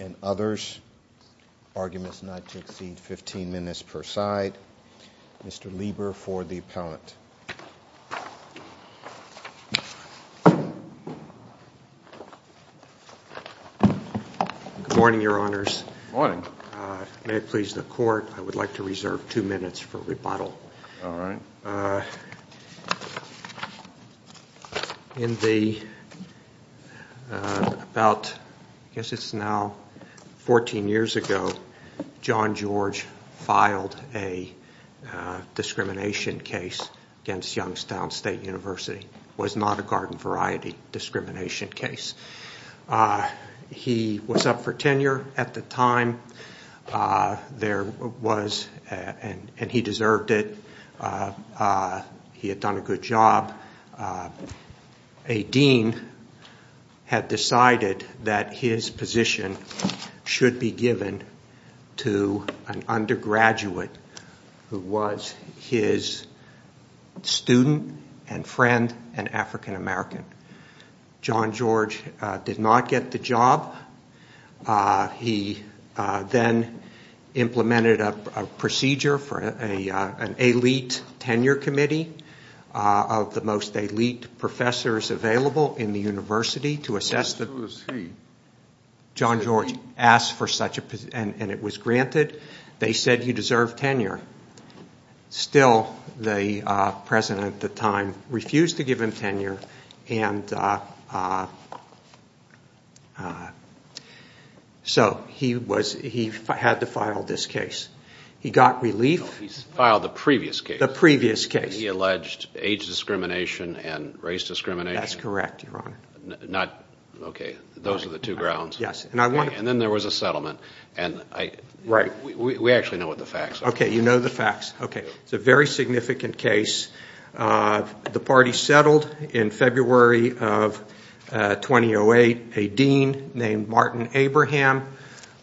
and others. Arguments not to exceed 15 minutes per side. Mr. Lieber for the appellant. Good morning, your honors. May it please the court, I would like to reserve two minutes for rebuttal. In the, about, I guess it's now 14 years ago, John George filed a discrimination case against Youngstown State University. It was not a garden variety discrimination case. He was up for tenure at the time. There was, and he deserved it. He had done a good job. A dean had decided that his position should be given to an undergraduate who was his student and friend and African American. John George did not get the job. He then implemented a procedure for an elite tenure committee of the most elite professors available in the university. John George asked for such a position and it was granted. They said you deserve tenure. Still, the president at the time refused to give him tenure and so he had to file this case. He got relief. He filed the previous case. The previous case. He alleged age discrimination and race discrimination. That's correct, your honor. Those are the two grounds. Then there was a settlement. We actually know what the facts are. You know the facts. It's a very significant case. The party settled in February of 2008 a dean named Martin Abraham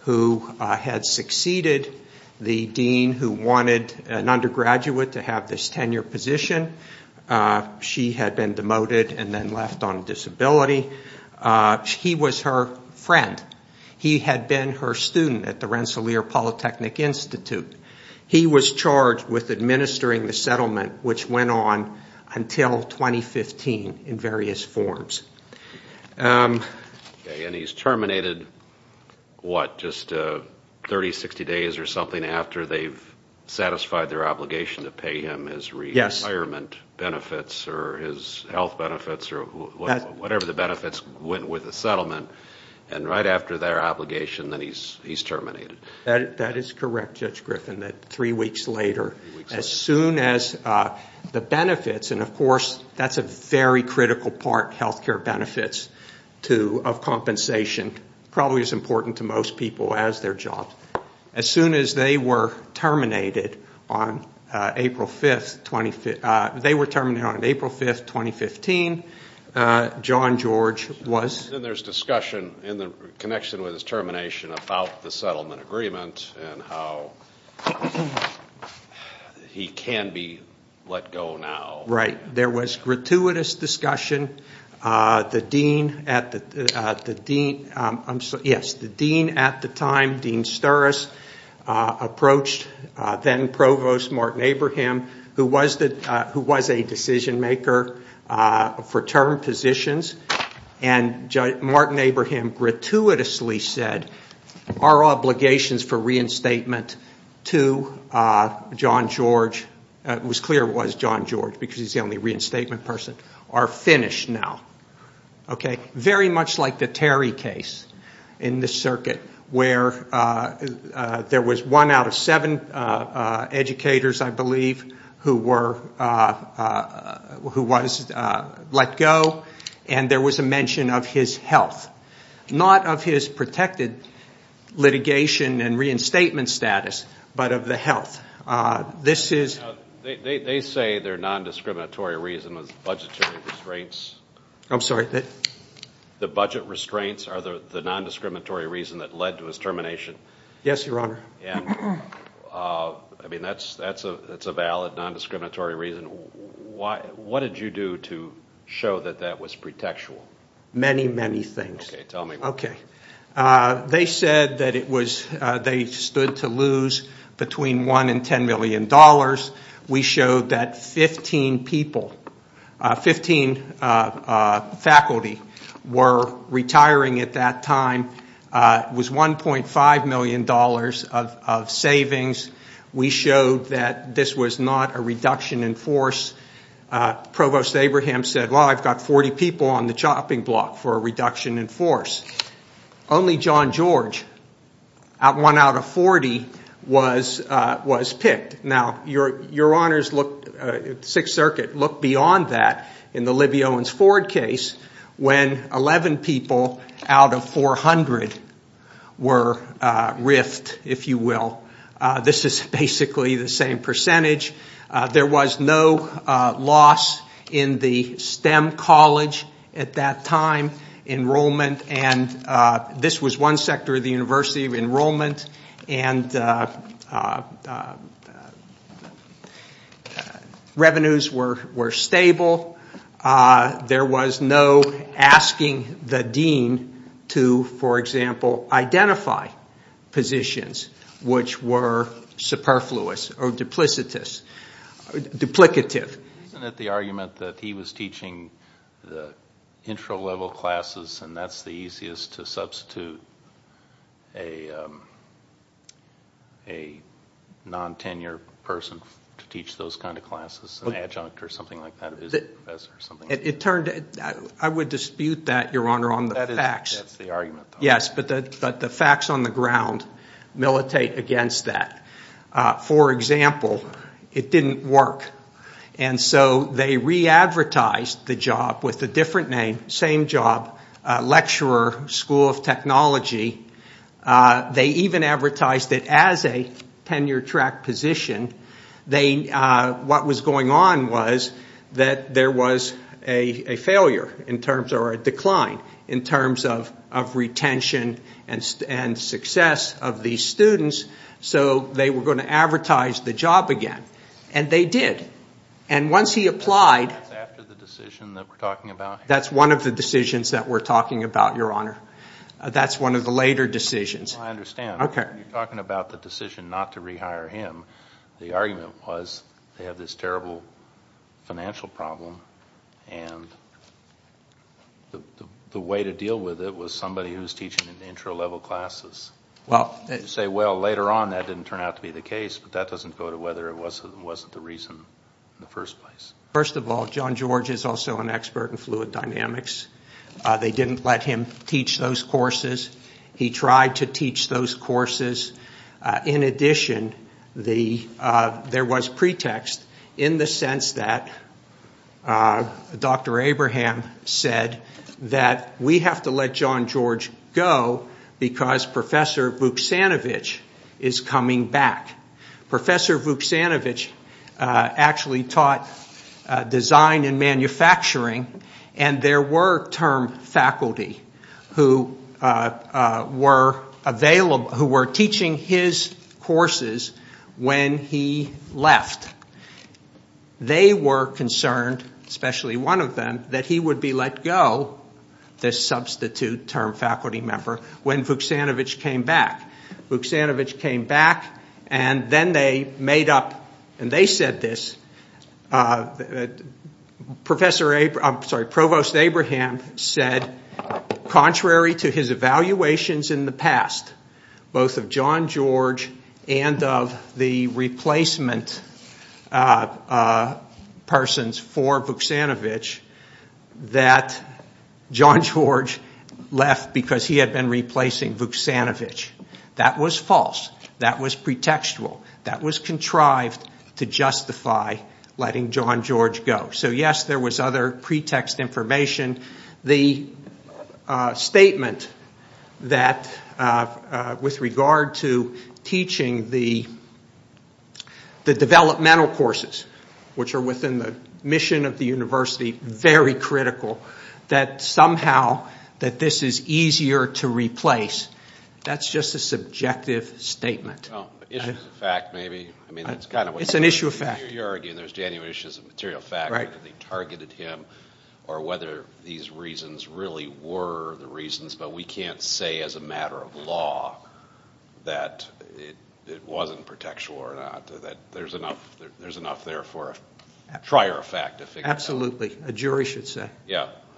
who had succeeded the dean who wanted an undergraduate to have this tenure position. She had been demoted and then left on disability. He was her friend. He had been her student at the Rensselaer Polytechnic Institute. He was charged with administering the settlement which went on until 2015 in various forms. He's terminated just 30, 60 days or something after they've satisfied their obligation to pay him his retirement benefits or his health benefits or whatever the benefits went with the settlement and right after their obligation he's terminated. That is correct, Judge Griffin. Three weeks later. As soon as the benefits, and of course that's a very critical part, health care benefits of compensation probably as important to most people as their jobs. As soon as they were terminated on April 5, 2015, John George was Then there's discussion in the connection with his termination about the settlement agreement and how he can be let go now. Right. There was gratuitous discussion. The dean at the time, Dean Sturrus, approached then Provost Martin Abraham who was a decision maker for term positions and Martin Abraham gratuitously said, Our obligations for reinstatement to John George, it was clear it was John George because he's the only reinstatement person, are finished now. Very much like the Terry case in this circuit where there was one out of seven educators, I believe, who was let go and there was a mention of his health. Not of his protected litigation and reinstatement status but of the health. They say their nondiscriminatory reason was budgetary restraints. I'm sorry? The budget restraints are the nondiscriminatory reason that led to his termination. Yes, Your Honor. That's a valid nondiscriminatory reason. What did you do to show that that was pretextual? Many, many things. Okay, tell me. They said that they stood to lose between one and ten million dollars. We showed that 15 people, 15 faculty were retiring at that time. It was 1.5 million dollars of savings. We showed that this was not a reduction in force. Provost Abraham said, well, I've got 40 people on the chopping block for a reduction in force. Only John George, one out of 40, was picked. Now, Your Honors, Sixth Circuit looked beyond that in the Libby Owens Ford case when 11 people out of 400 were riffed, if you will. This is basically the same percentage. There was no loss in the STEM college at that time. Enrollment, and this was one sector of the university, enrollment and revenues were stable. There was no asking the dean to, for example, identify positions which were superfluous or duplicative. Isn't it the argument that he was teaching the intro level classes and that's the easiest to substitute a non-tenure person to teach those kind of classes, an adjunct or something like that? I would dispute that, Your Honor, on the facts. That's the argument. Yes, but the facts on the ground militate against that. For example, it didn't work, and so they re-advertised the job with a different name, same job, lecturer, School of Technology. They even advertised it as a tenure track position. What was going on was that there was a failure or a decline in terms of retention and success of these students, so they were going to advertise the job again, and they did. Once he applied- That's after the decision that we're talking about? That's one of the decisions that we're talking about, Your Honor. That's one of the later decisions. I understand. Okay. You're talking about the decision not to rehire him. The argument was they have this terrible financial problem, and the way to deal with it was somebody who was teaching intro level classes. You say, well, later on that didn't turn out to be the case, but that doesn't go to whether it wasn't the reason in the first place. First of all, John George is also an expert in fluid dynamics. They didn't let him teach those courses. He tried to teach those courses. In addition, there was pretext in the sense that Dr. Abraham said that we have to let John George go because Professor Vuksanovich is coming back. Professor Vuksanovich actually taught design and manufacturing, and there were term faculty who were teaching his courses when he left. They were concerned, especially one of them, that he would be let go, this substitute term faculty member, when Vuksanovich came back. Vuksanovich came back, and then they made up, and they said this, Provost Abraham said, contrary to his evaluations in the past, both of John George and of the replacement persons for Vuksanovich, that John George left because he had been replacing Vuksanovich. That was false. That was pretextual. That was contrived to justify letting John George go. So, yes, there was other pretext information. The statement that with regard to teaching the developmental courses, which are within the mission of the university, very critical, that somehow that this is easier to replace, that's just a subjective statement. Issues of fact, maybe. It's an issue of fact. You're arguing there's genuine issues of material fact, that they targeted him, or whether these reasons really were the reasons, but we can't say as a matter of law that it wasn't pretextual or not. There's enough there for a trier of fact to figure that out. Absolutely. A jury should say.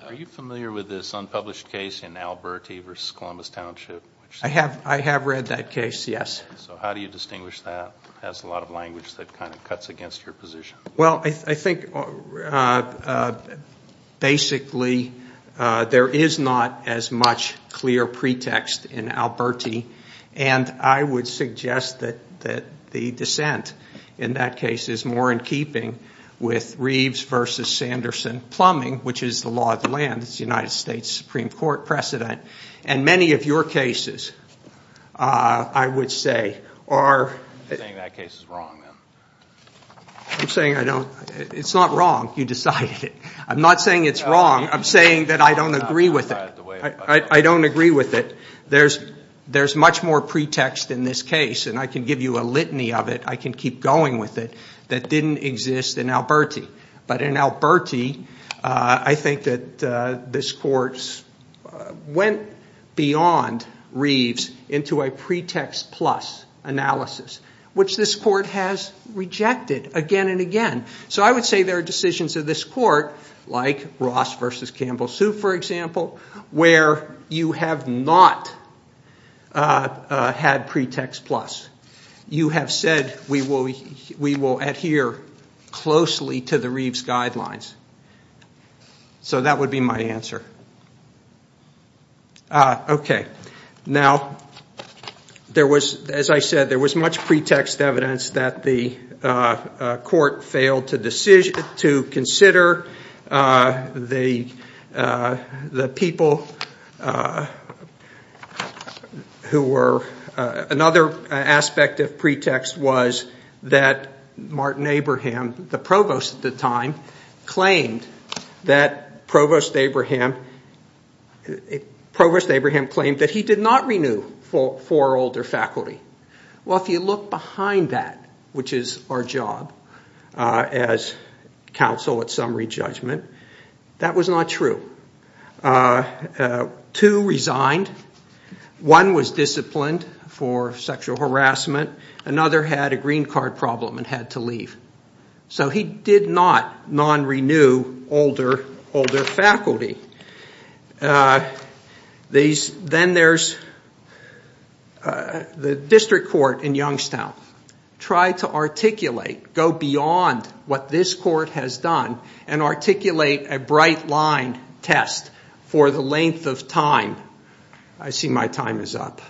Are you familiar with this unpublished case in Alberti versus Columbus Township? I have read that case, yes. So how do you distinguish that? It has a lot of language that kind of cuts against your position. Well, I think basically there is not as much clear pretext in Alberti, and I would suggest that the dissent in that case is more in keeping with Reeves versus Sanderson plumbing, which is the law of the land. It's the United States Supreme Court precedent. And many of your cases, I would say, are. You're saying that case is wrong, then. I'm saying I don't. It's not wrong. You decided it. I'm not saying it's wrong. I'm saying that I don't agree with it. I don't agree with it. There's much more pretext in this case, and I can give you a litany of it. I can keep going with it, that didn't exist in Alberti. But in Alberti, I think that this court went beyond Reeves into a pretext plus analysis, which this court has rejected again and again. So I would say there are decisions of this court, like Ross versus Campbell-Soup, for example, where you have not had pretext plus. You have said we will adhere closely to the Reeves guidelines. So that would be my answer. Okay. Now, there was, as I said, there was much pretext evidence that the court failed to consider the people who were. Another aspect of pretext was that Martin Abraham, the provost at the time, claimed that he did not renew four older faculty. Well, if you look behind that, which is our job as counsel at summary judgment, that was not true. Two resigned. One was disciplined for sexual harassment. Another had a green card problem and had to leave. So he did not non-renew older faculty. Then there's the district court in Youngstown tried to articulate, go beyond what this court has done and articulate a bright line test for the length of time. I see my time is up.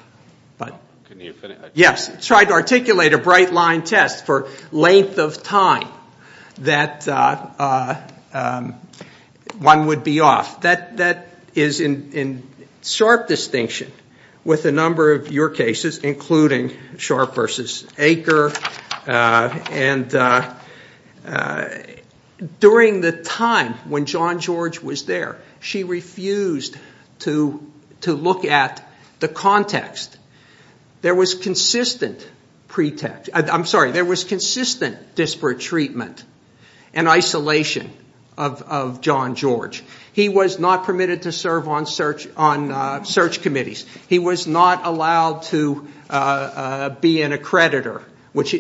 Yes. Tried to articulate a bright line test for length of time that one would be off. That is in sharp distinction with a number of your cases, including Sharp v. Aker. And during the time when John George was there, she refused to look at the context. There was consistent disparate treatment and isolation of John George. He was not permitted to serve on search committees. He was not allowed to be an accreditor,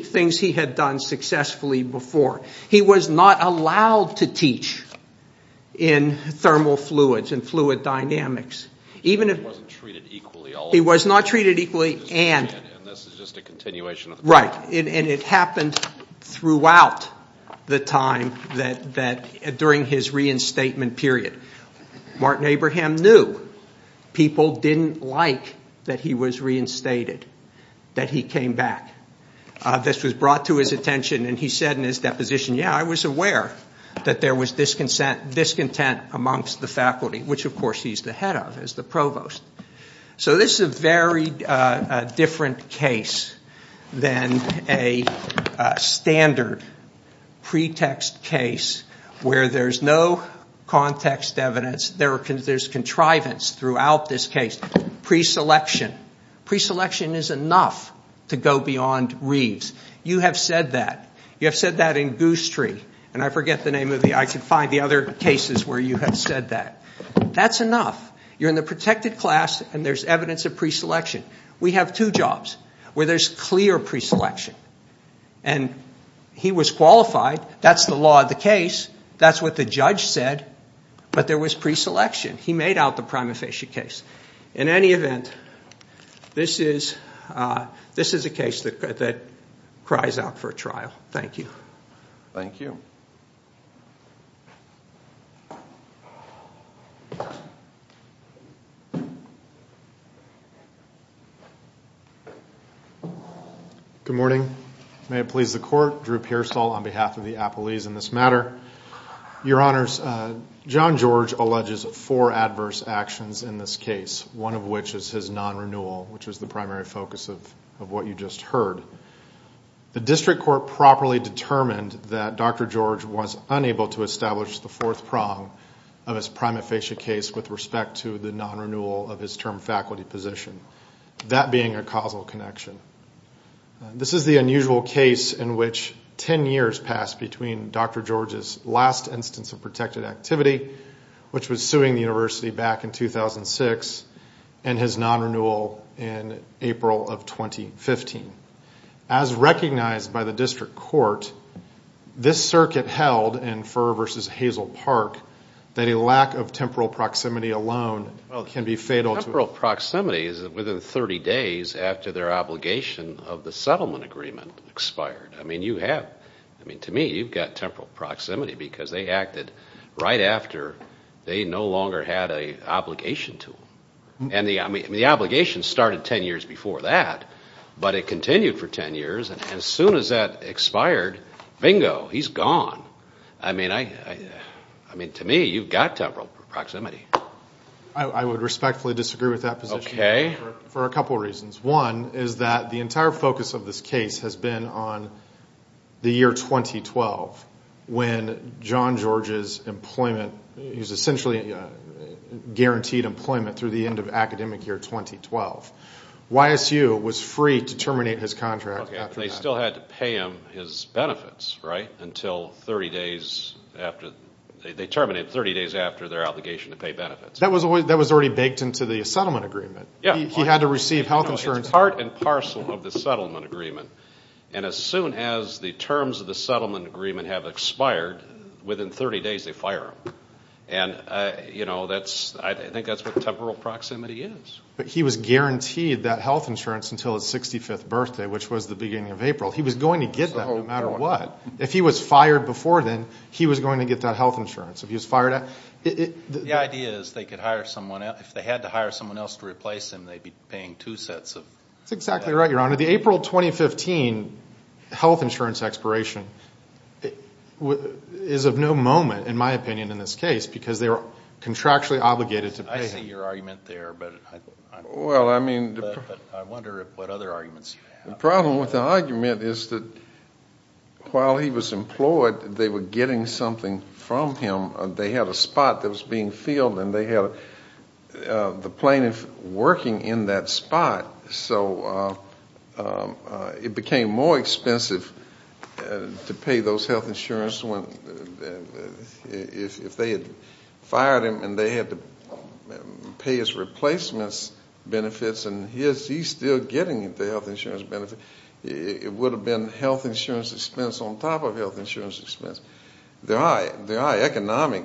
things he had done successfully before. He was not allowed to teach in thermal fluids and fluid dynamics. He wasn't treated equally. He was not treated equally. And this is just a continuation. Right. And it happened throughout the time during his reinstatement period. Martin Abraham knew people didn't like that he was reinstated, that he came back. This was brought to his attention, and he said in his deposition, yeah, I was aware that there was discontent amongst the faculty, which, of course, he's the head of as the provost. So this is a very different case than a standard pretext case where there's no context evidence. There's contrivance throughout this case. Preselection. Preselection is enough to go beyond Reeves. You have said that. And I forget the name of the other cases where you have said that. That's enough. You're in the protected class and there's evidence of preselection. We have two jobs where there's clear preselection. And he was qualified. That's the law of the case. That's what the judge said. But there was preselection. He made out the prima facie case. In any event, this is a case that cries out for a trial. Thank you. Thank you. Good morning. May it please the Court. Drew Pearsall on behalf of the appellees in this matter. Your Honors, John George alleges four adverse actions in this case, one of which is his non-renewal, which was the primary focus of what you just heard. The district court properly determined that Dr. George was unable to establish the fourth prong of his prima facie case with respect to the non-renewal of his term faculty position, that being a causal connection. This is the unusual case in which ten years passed between Dr. George's last instance of protected activity, which was suing the university back in 2006, and his non-renewal in April of 2015. As recognized by the district court, this circuit held in Furr v. Hazel Park that a lack of temporal proximity alone can be fatal. Temporal proximity is within 30 days after their obligation of the settlement agreement expired. I mean, to me, you've got temporal proximity because they acted right after they no longer had an obligation to him. And the obligation started ten years before that, but it continued for ten years, and as soon as that expired, bingo, he's gone. I mean, to me, you've got temporal proximity. I would respectfully disagree with that position for a couple of reasons. One is that the entire focus of this case has been on the year 2012 when John George's employment, he was essentially guaranteed employment through the end of academic year 2012. YSU was free to terminate his contract after that. Okay, but they still had to pay him his benefits, right, until 30 days after, they terminated 30 days after their obligation to pay benefits. That was already baked into the settlement agreement. He had to receive health insurance. It's part and parcel of the settlement agreement. And as soon as the terms of the settlement agreement have expired, within 30 days they fire him. And, you know, I think that's what temporal proximity is. But he was guaranteed that health insurance until his 65th birthday, which was the beginning of April. He was going to get that no matter what. If he was fired before then, he was going to get that health insurance. The idea is they could hire someone else. If they had to hire someone else to replace him, they'd be paying two sets of benefits. That's exactly right, Your Honor. The April 2015 health insurance expiration is of no moment, in my opinion, in this case, because they were contractually obligated to pay him. I see your argument there, but I wonder what other arguments you have. The problem with the argument is that while he was employed, they were getting something from him. They had a spot that was being filled, and they had the plaintiff working in that spot. So it became more expensive to pay those health insurance if they had fired him and they had to pay his replacements benefits, and he's still getting the health insurance benefits. It would have been health insurance expense on top of health insurance expense. There are economic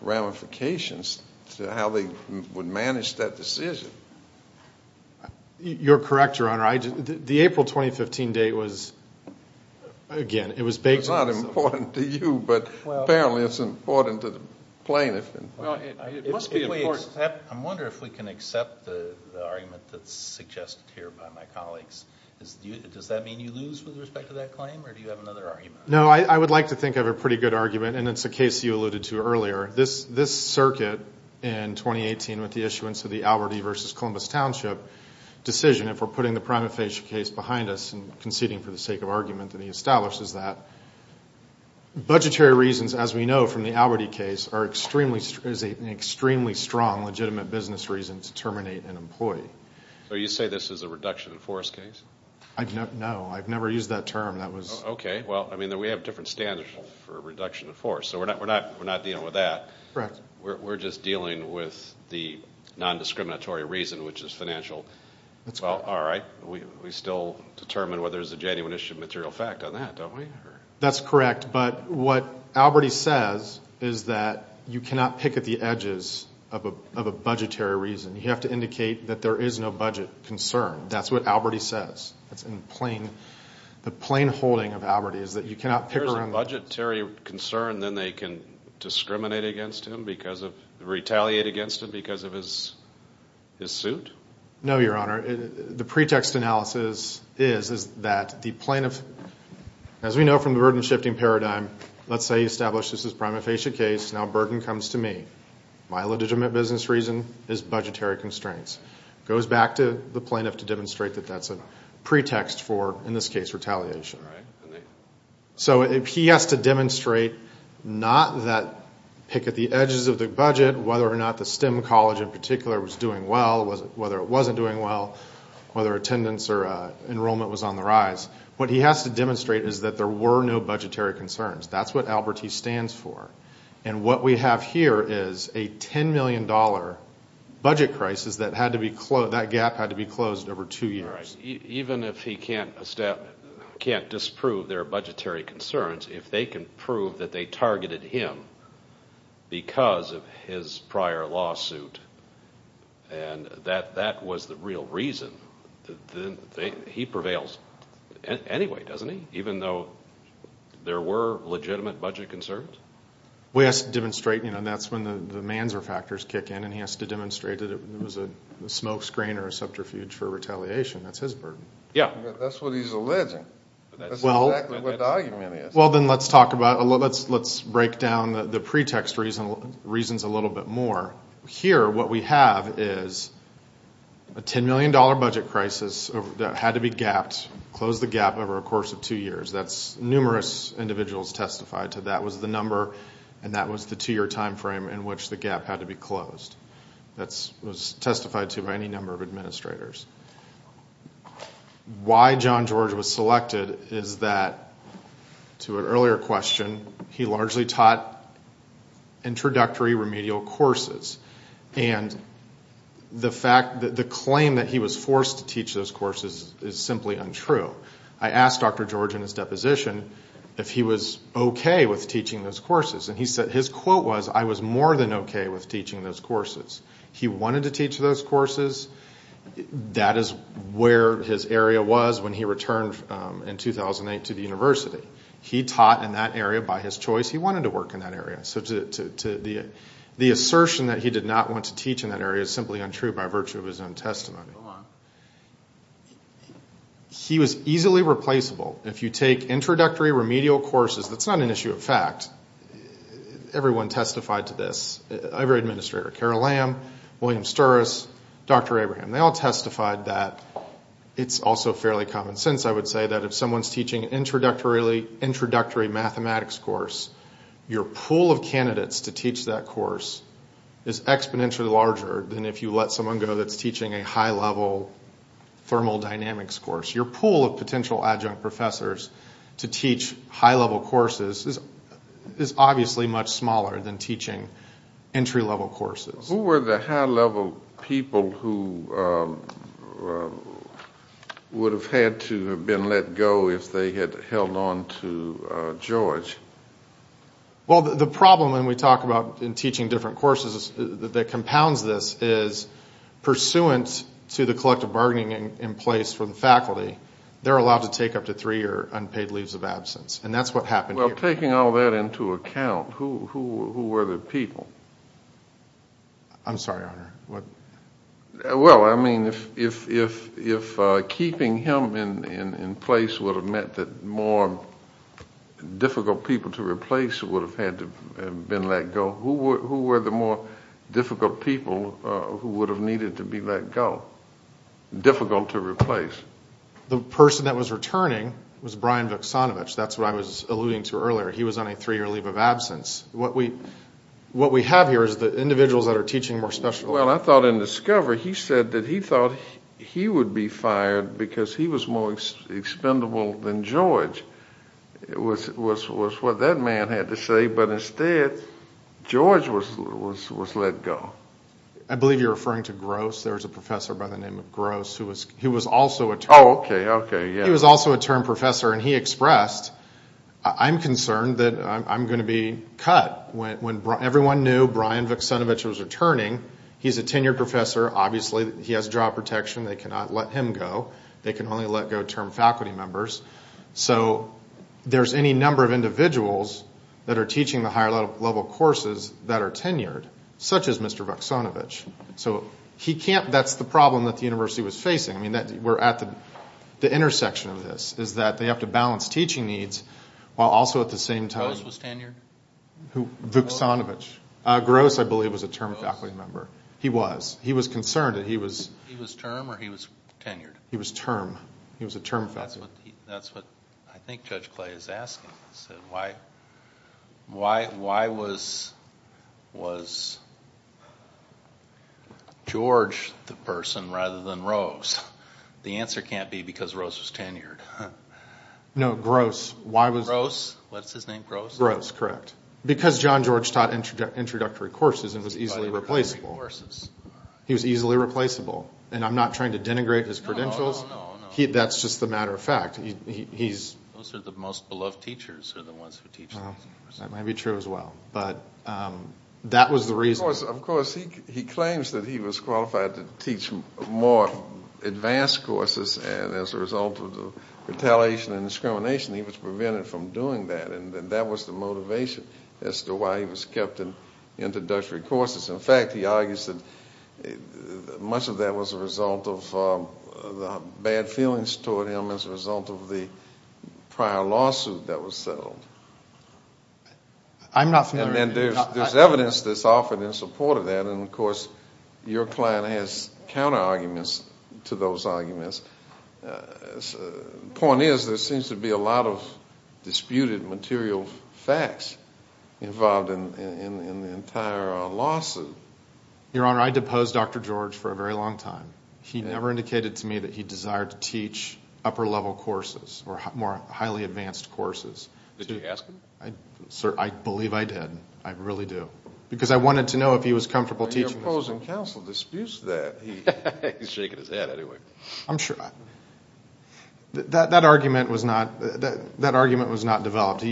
ramifications to how they would manage that decision. You're correct, Your Honor. The April 2015 date was, again, it was baked in. It's not important to you, but apparently it's important to the plaintiff. It must be important. I wonder if we can accept the argument that's suggested here by my colleagues. Does that mean you lose with respect to that claim, or do you have another argument? No, I would like to think of a pretty good argument, and it's a case you alluded to earlier. This circuit in 2018 with the issuance of the Albert E. v. Columbus Township decision, if we're putting the prima facie case behind us and conceding for the sake of argument, and he establishes that budgetary reasons, as we know from the Albert E. case, is an extremely strong legitimate business reason to terminate an employee. So you say this is a reduction in force case? No, I've never used that term. Okay. Well, I mean, we have different standards for reduction in force, so we're not dealing with that. Correct. We're just dealing with the nondiscriminatory reason, which is financial. All right. We still determine whether there's a genuine issue of material fact on that, don't we? That's correct. But what Albert E. says is that you cannot pick at the edges of a budgetary reason. You have to indicate that there is no budget concern. That's what Albert E. says. The plain holding of Albert E. is that you cannot pick around those. If there's a budgetary concern, then they can discriminate against him because of, retaliate against him because of his suit? No, Your Honor. The pretext analysis is that the plaintiff, as we know from the burden-shifting paradigm, let's say he establishes this is a prima facie case, now burden comes to me. My legitimate business reason is budgetary constraints. It goes back to the plaintiff to demonstrate that that's a pretext for, in this case, retaliation. All right. So he has to demonstrate not that pick at the edges of the budget, whether or not the STEM college in particular was doing well, whether it wasn't doing well, whether attendance or enrollment was on the rise. What he has to demonstrate is that there were no budgetary concerns. That's what Albert E. stands for. And what we have here is a $10 million budget crisis that had to be closed, that gap had to be closed over two years. All right. Even if he can't disprove their budgetary concerns, if they can prove that they targeted him because of his prior lawsuit and that that was the real reason, then he prevails anyway, doesn't he, even though there were legitimate budget concerns? Well, he has to demonstrate, you know, that's when the Manzer factors kick in, and he has to demonstrate that it was a smokescreen or a subterfuge for retaliation. That's his burden. Yeah. That's what he's alleging. That's exactly what the argument is. Well, then let's talk about, let's break down the pretext reasons a little bit more. Here what we have is a $10 million budget crisis that had to be gapped, closed the gap over a course of two years. That's numerous individuals testified to that was the number and that was the two-year time frame in which the gap had to be closed. That was testified to by any number of administrators. Why John George was selected is that, to an earlier question, he largely taught introductory remedial courses, and the claim that he was forced to teach those courses is simply untrue. I asked Dr. George in his deposition if he was okay with teaching those courses, and his quote was, I was more than okay with teaching those courses. He wanted to teach those courses. That is where his area was when he returned in 2008 to the university. He taught in that area by his choice. He wanted to work in that area. So the assertion that he did not want to teach in that area is simply untrue by virtue of his own testimony. He was easily replaceable. If you take introductory remedial courses, that's not an issue of fact. Everyone testified to this. Every administrator, Carol Lamb, William Sturrus, Dr. Abraham, they all testified that it's also fairly common sense, I would say, that if someone's teaching an introductory mathematics course, your pool of candidates to teach that course is exponentially larger than if you let someone go that's teaching a high-level thermal dynamics course. Your pool of potential adjunct professors to teach high-level courses is obviously much smaller than teaching entry-level courses. Who were the high-level people who would have had to have been let go if they had held on to George? Well, the problem when we talk about teaching different courses that compounds this is pursuant to the collective bargaining in place for the faculty, they're allowed to take up to three-year unpaid leaves of absence. And that's what happened here. Well, taking all that into account, who were the people? I'm sorry, Honor. Well, I mean, if keeping him in place would have meant that more difficult people to replace would have had to have been let go, who were the more difficult people who would have needed to be let go? Difficult to replace. The person that was returning was Brian Vucsonovic. That's what I was alluding to earlier. He was on a three-year leave of absence. What we have here is the individuals that are teaching more special. Well, I thought in Discover he said that he thought he would be fired because he was more expendable than George. It was what that man had to say. But instead, George was let go. I believe you're referring to Gross. There was a professor by the name of Gross who was also a term professor, and he expressed, I'm concerned that I'm going to be cut. Everyone knew Brian Vucsonovic was returning. He's a tenured professor. Obviously, he has job protection. They cannot let him go. They can only let go of term faculty members. So there's any number of individuals that are teaching the higher-level courses that are tenured, such as Mr. Vucsonovic. So that's the problem that the university was facing. The intersection of this is that they have to balance teaching needs while also at the same time- Gross was tenured? Vucsonovic. Gross, I believe, was a term faculty member. He was. He was concerned that he was- He was term or he was tenured? He was term. He was a term faculty member. That's what I think Judge Clay is asking. Why was George the person rather than Rose? The answer can't be because Rose was tenured. No, Gross. Why was- Gross? What's his name, Gross? Gross, correct. Because John George taught introductory courses and was easily replaceable. He was easily replaceable, and I'm not trying to denigrate his credentials. That's just a matter of fact. Those are the most beloved teachers are the ones who teach those courses. That may be true as well, but that was the reason. Of course, he claims that he was qualified to teach more advanced courses, and as a result of the retaliation and discrimination, he was prevented from doing that, and that was the motivation as to why he was kept in introductory courses. In fact, he argues that much of that was a result of the bad feelings toward him as a result of the prior lawsuit that was settled. I'm not familiar. There's evidence that's offered in support of that, and, of course, your client has counterarguments to those arguments. The point is there seems to be a lot of disputed material facts involved in the entire lawsuit. Your Honor, I deposed Dr. George for a very long time. He never indicated to me that he desired to teach upper-level courses or more highly advanced courses. Did you ask him? Sir, I believe I did. I really do. Because I wanted to know if he was comfortable teaching- Your opposing counsel disputes that. He's shaking his head anyway. I'm sure. That argument was not developed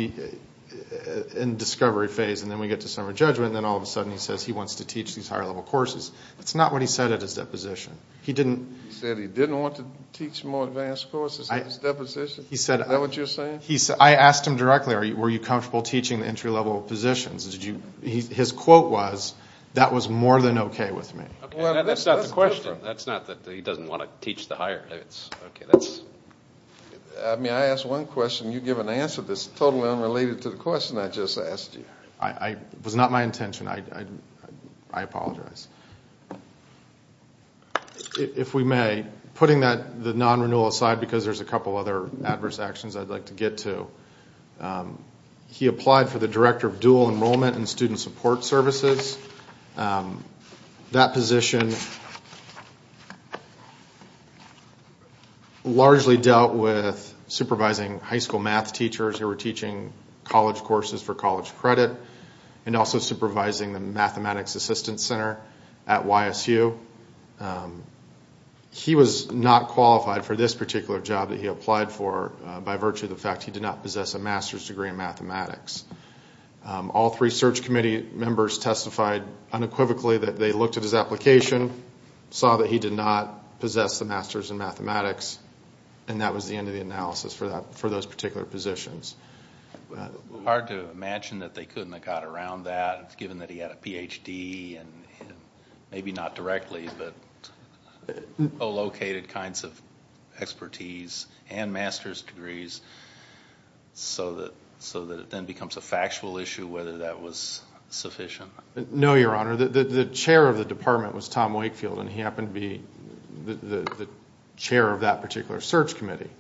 in the discovery phase, and then we get to summary judgment, and then all of a sudden he says he wants to teach these higher-level courses. That's not what he said at his deposition. He said he didn't want to teach more advanced courses at his deposition? Is that what you're saying? I asked him directly, were you comfortable teaching the entry-level positions? His quote was, that was more than okay with me. That's not the question. He wants to teach the higher. Okay, that's- May I ask one question? You give an answer that's totally unrelated to the question I just asked you. It was not my intention. I apologize. If we may, putting the non-renewal aside, because there's a couple other adverse actions I'd like to get to, he applied for the Director of Dual Enrollment and Student Support Services. That position largely dealt with supervising high school math teachers who were teaching college courses for college credit and also supervising the Mathematics Assistance Center at YSU. He was not qualified for this particular job that he applied for by virtue of the fact he did not possess a master's degree in mathematics. All three search committee members testified unequivocally that they looked at his application, saw that he did not possess a master's in mathematics, and that was the end of the analysis for those particular positions. Hard to imagine that they couldn't have got around that, given that he had a PhD and maybe not directly, but co-located kinds of expertise and master's degrees so that it then becomes a factual issue whether that was sufficient. No, Your Honor. The chair of the department was Tom Wakefield, and he happened to be the chair of that particular search committee.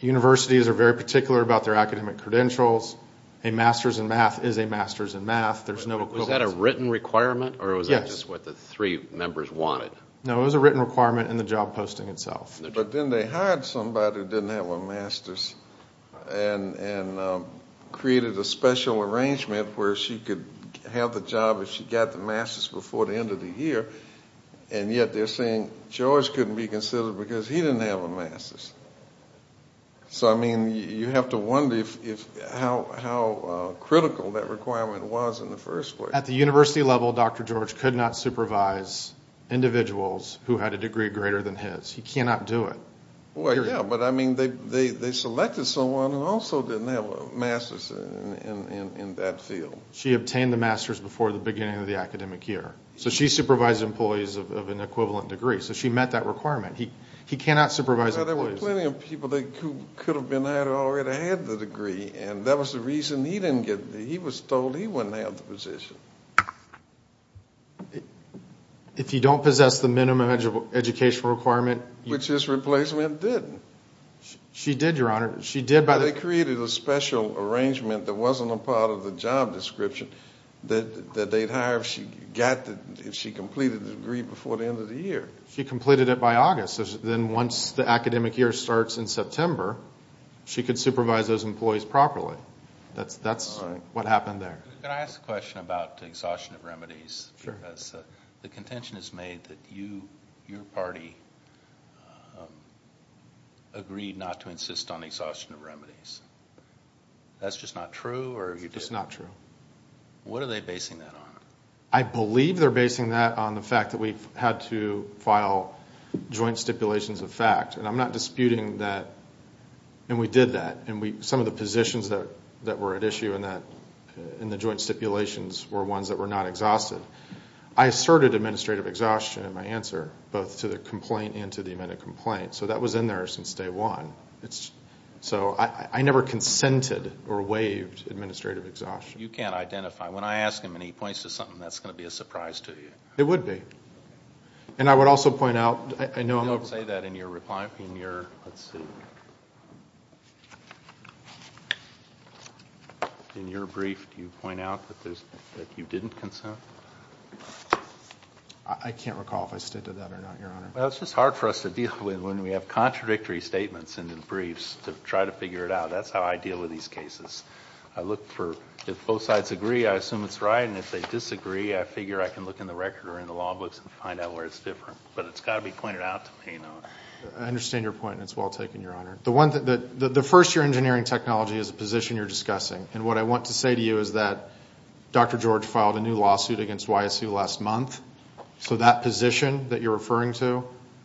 Universities are very particular about their academic credentials. A master's in math is a master's in math. Was that a written requirement, or was that just what the three members wanted? No, it was a written requirement in the job posting itself. But then they hired somebody who didn't have a master's and created a special arrangement where she could have the job if she got the master's before the end of the year, and yet they're saying George couldn't be considered because he didn't have a master's. So, I mean, you have to wonder how critical that requirement was in the first place. At the university level, Dr. George could not supervise individuals who had a degree greater than his. He cannot do it. Well, yeah, but, I mean, they selected someone who also didn't have a master's in that field. She obtained the master's before the beginning of the academic year. So she supervised employees of an equivalent degree. So she met that requirement. He cannot supervise employees. Well, there were plenty of people that could have already had the degree, and that was the reason he didn't get it. He was told he wouldn't have the position. If you don't possess the minimum educational requirement. Which his replacement didn't. She did, Your Honor. They created a special arrangement that wasn't a part of the job description that they'd hire if she completed the degree before the end of the year. She completed it by August. Then once the academic year starts in September, she could supervise those employees properly. That's what happened there. Can I ask a question about the exhaustion of remedies? Sure. Because the contention is made that your party agreed not to insist on the exhaustion of remedies. That's just not true? It's just not true. What are they basing that on? I believe they're basing that on the fact that we've had to file joint stipulations of fact. And I'm not disputing that. And we did that. And some of the positions that were at issue in the joint stipulations were ones that were not exhausted. I asserted administrative exhaustion in my answer, both to the complaint and to the amended complaint. So that was in there since day one. So I never consented or waived administrative exhaustion. You can't identify. When I ask him and he points to something, that's going to be a surprise to you. It would be. And I would also point out. You don't say that in your reply. Let's see. In your brief, do you point out that you didn't consent? I can't recall if I stated that or not, Your Honor. It's just hard for us to deal with when we have contradictory statements in the briefs to try to figure it out. That's how I deal with these cases. I look for if both sides agree, I assume it's right. And if they disagree, I figure I can look in the record or in the law books and find out where it's different. But it's got to be pointed out to me. I understand your point, and it's well taken, Your Honor. The first year engineering technology is a position you're discussing. And what I want to say to you is that Dr. George filed a new lawsuit against YSU last month. So that position that you're referring to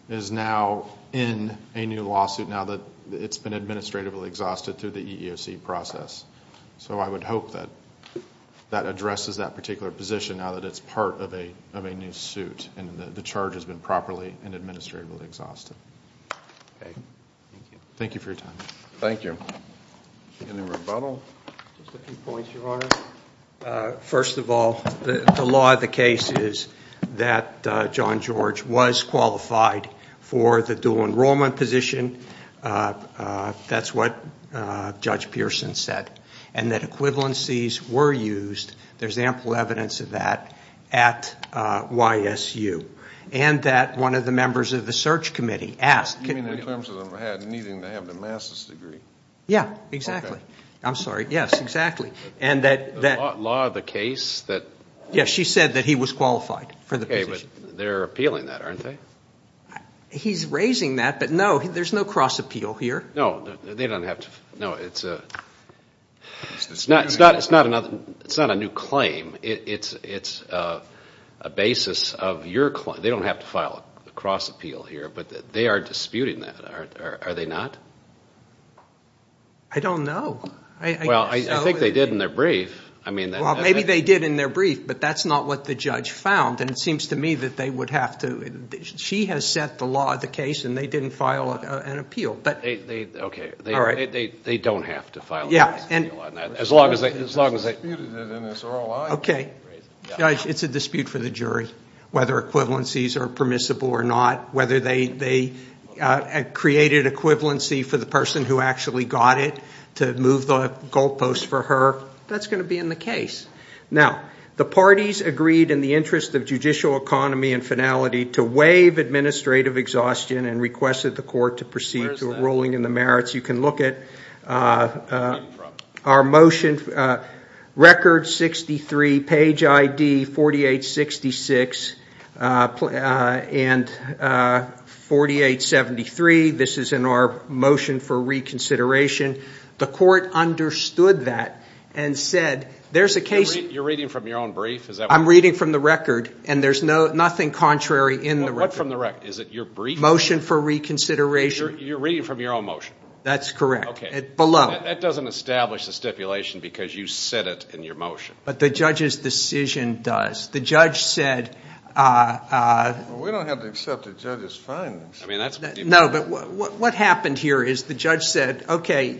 is now in a new lawsuit now that it's been administratively exhausted through the EEOC process. So I would hope that that addresses that particular position now that it's part of a new suit and the charge has been properly and administratively exhausted. Okay. Thank you. Thank you for your time. Thank you. Any rebuttal? Just a few points, Your Honor. First of all, the law of the case is that John George was qualified for the dual enrollment position. That's what Judge Pearson said. And that equivalencies were used. There's ample evidence of that at YSU. And that one of the members of the search committee asked You mean in terms of needing to have the master's degree? Yeah, exactly. I'm sorry. Yes, exactly. And that The law of the case that Yes, she said that he was qualified for the position. Okay, but they're appealing that, aren't they? He's raising that, but no, there's no cross-appeal here. No, they don't have to. No, it's not a new claim. It's a basis of your claim. They don't have to file a cross-appeal here, but they are disputing that, are they not? I don't know. Well, I think they did in their brief. Well, maybe they did in their brief, but that's not what the judge found. And it seems to me that they would have to She has set the law of the case, and they didn't file an appeal. Okay. All right. They don't have to file an appeal on that. As long as they Okay. It's a dispute for the jury, whether equivalencies are permissible or not, whether they created equivalency for the person who actually got it to move the goalposts for her. That's going to be in the case. Now, the parties agreed in the interest of judicial economy and finality to waive administrative exhaustion and requested the court to proceed to a ruling in the merits. You can look at our motion, record 63, page ID 4866 and 4873. This is in our motion for reconsideration. The court understood that and said there's a case You're reading from your own brief? I'm reading from the record, and there's nothing contrary in the record. What from the record? Is it your brief? Motion for reconsideration. You're reading from your own motion? That's correct. Okay. Below. That doesn't establish the stipulation because you said it in your motion. But the judge's decision does. The judge said We don't have to accept the judge's findings. No, but what happened here is the judge said, Okay,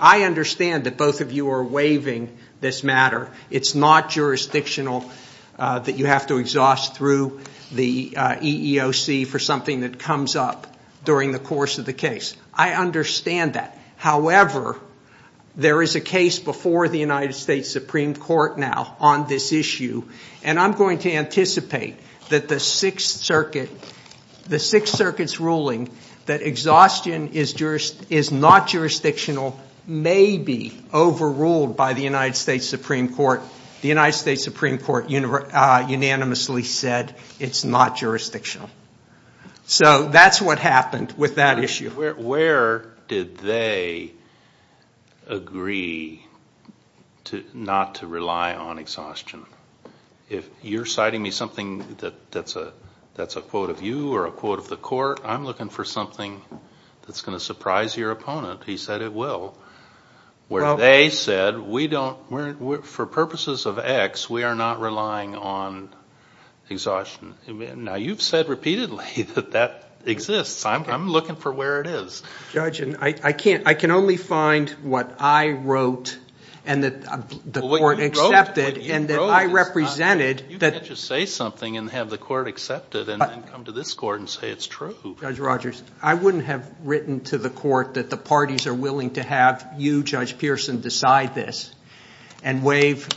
I understand that both of you are waiving this matter. It's not jurisdictional that you have to exhaust through the EEOC for something that comes up during the course of the case. I understand that. However, there is a case before the United States Supreme Court now on this issue, and I'm going to anticipate that the Sixth Circuit's ruling that exhaustion is not jurisdictional may be overruled by the United States Supreme Court. The United States Supreme Court unanimously said it's not jurisdictional. So that's what happened with that issue. Where did they agree not to rely on exhaustion? If you're citing me something that's a quote of you or a quote of the court, I'm looking for something that's going to surprise your opponent. He said it will. Where they said for purposes of X, we are not relying on exhaustion. Now, you've said repeatedly that that exists. I'm looking for where it is. Judge, I can only find what I wrote and that the court accepted and that I represented. You can't just say something and have the court accept it and then come to this court and say it's true. Judge Rogers, I wouldn't have written to the court that the parties are willing to have you, Judge Pearson, decide this and waive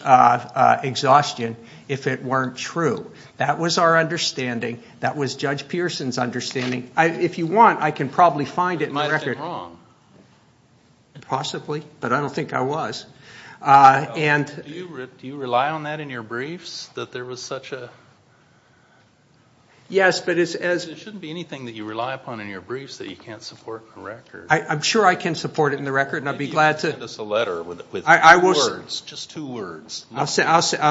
exhaustion if it weren't true. That was our understanding. That was Judge Pearson's understanding. If you want, I can probably find it in the record. It might have been wrong. Possibly, but I don't think I was. Do you rely on that in your briefs, that there was such a – It shouldn't be anything that you rely upon in your briefs that you can't support in the record. I'm sure I can support it in the record, and I'd be glad to – Maybe you can send us a letter with words, just two words. I'll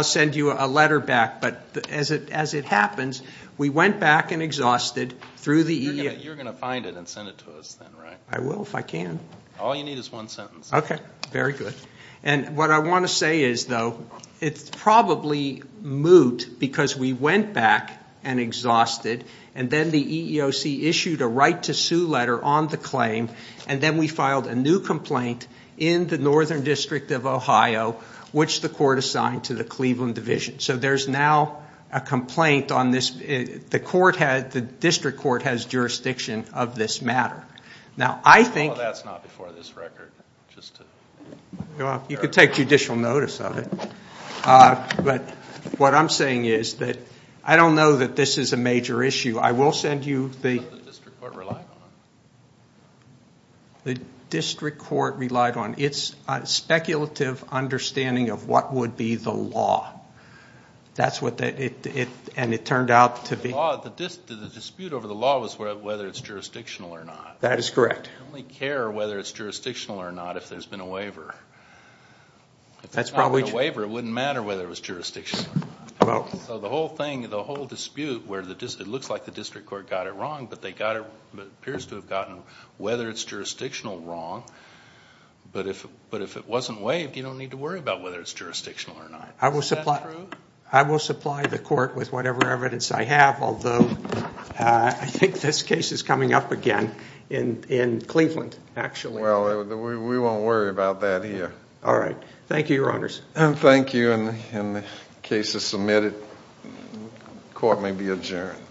send you a letter back, but as it happens, we went back and exhausted through the – You're going to find it and send it to us then, right? I will if I can. All you need is one sentence. Okay, very good. What I want to say is, though, it's probably moot because we went back and exhausted, and then the EEOC issued a right-to-sue letter on the claim, and then we filed a new complaint in the Northern District of Ohio, which the court assigned to the Cleveland Division. So there's now a complaint on this. The district court has jurisdiction of this matter. That's not before this record. You could take judicial notice of it. But what I'm saying is that I don't know that this is a major issue. I will send you the – That's what the district court relied on. The district court relied on. It's a speculative understanding of what would be the law, and it turned out to be – The dispute over the law was whether it's jurisdictional or not. That is correct. I only care whether it's jurisdictional or not if there's been a waiver. If there's not been a waiver, it wouldn't matter whether it was jurisdictional or not. So the whole thing, the whole dispute where it looks like the district court got it wrong, but they got it – it appears to have gotten whether it's jurisdictional wrong. But if it wasn't waived, you don't need to worry about whether it's jurisdictional or not. Is that true? I will supply the court with whatever evidence I have, although I think this case is coming up again in Cleveland, actually. Well, we won't worry about that here. All right. Thank you, Your Honors. And thank you. And the case is submitted. Court may be adjourned.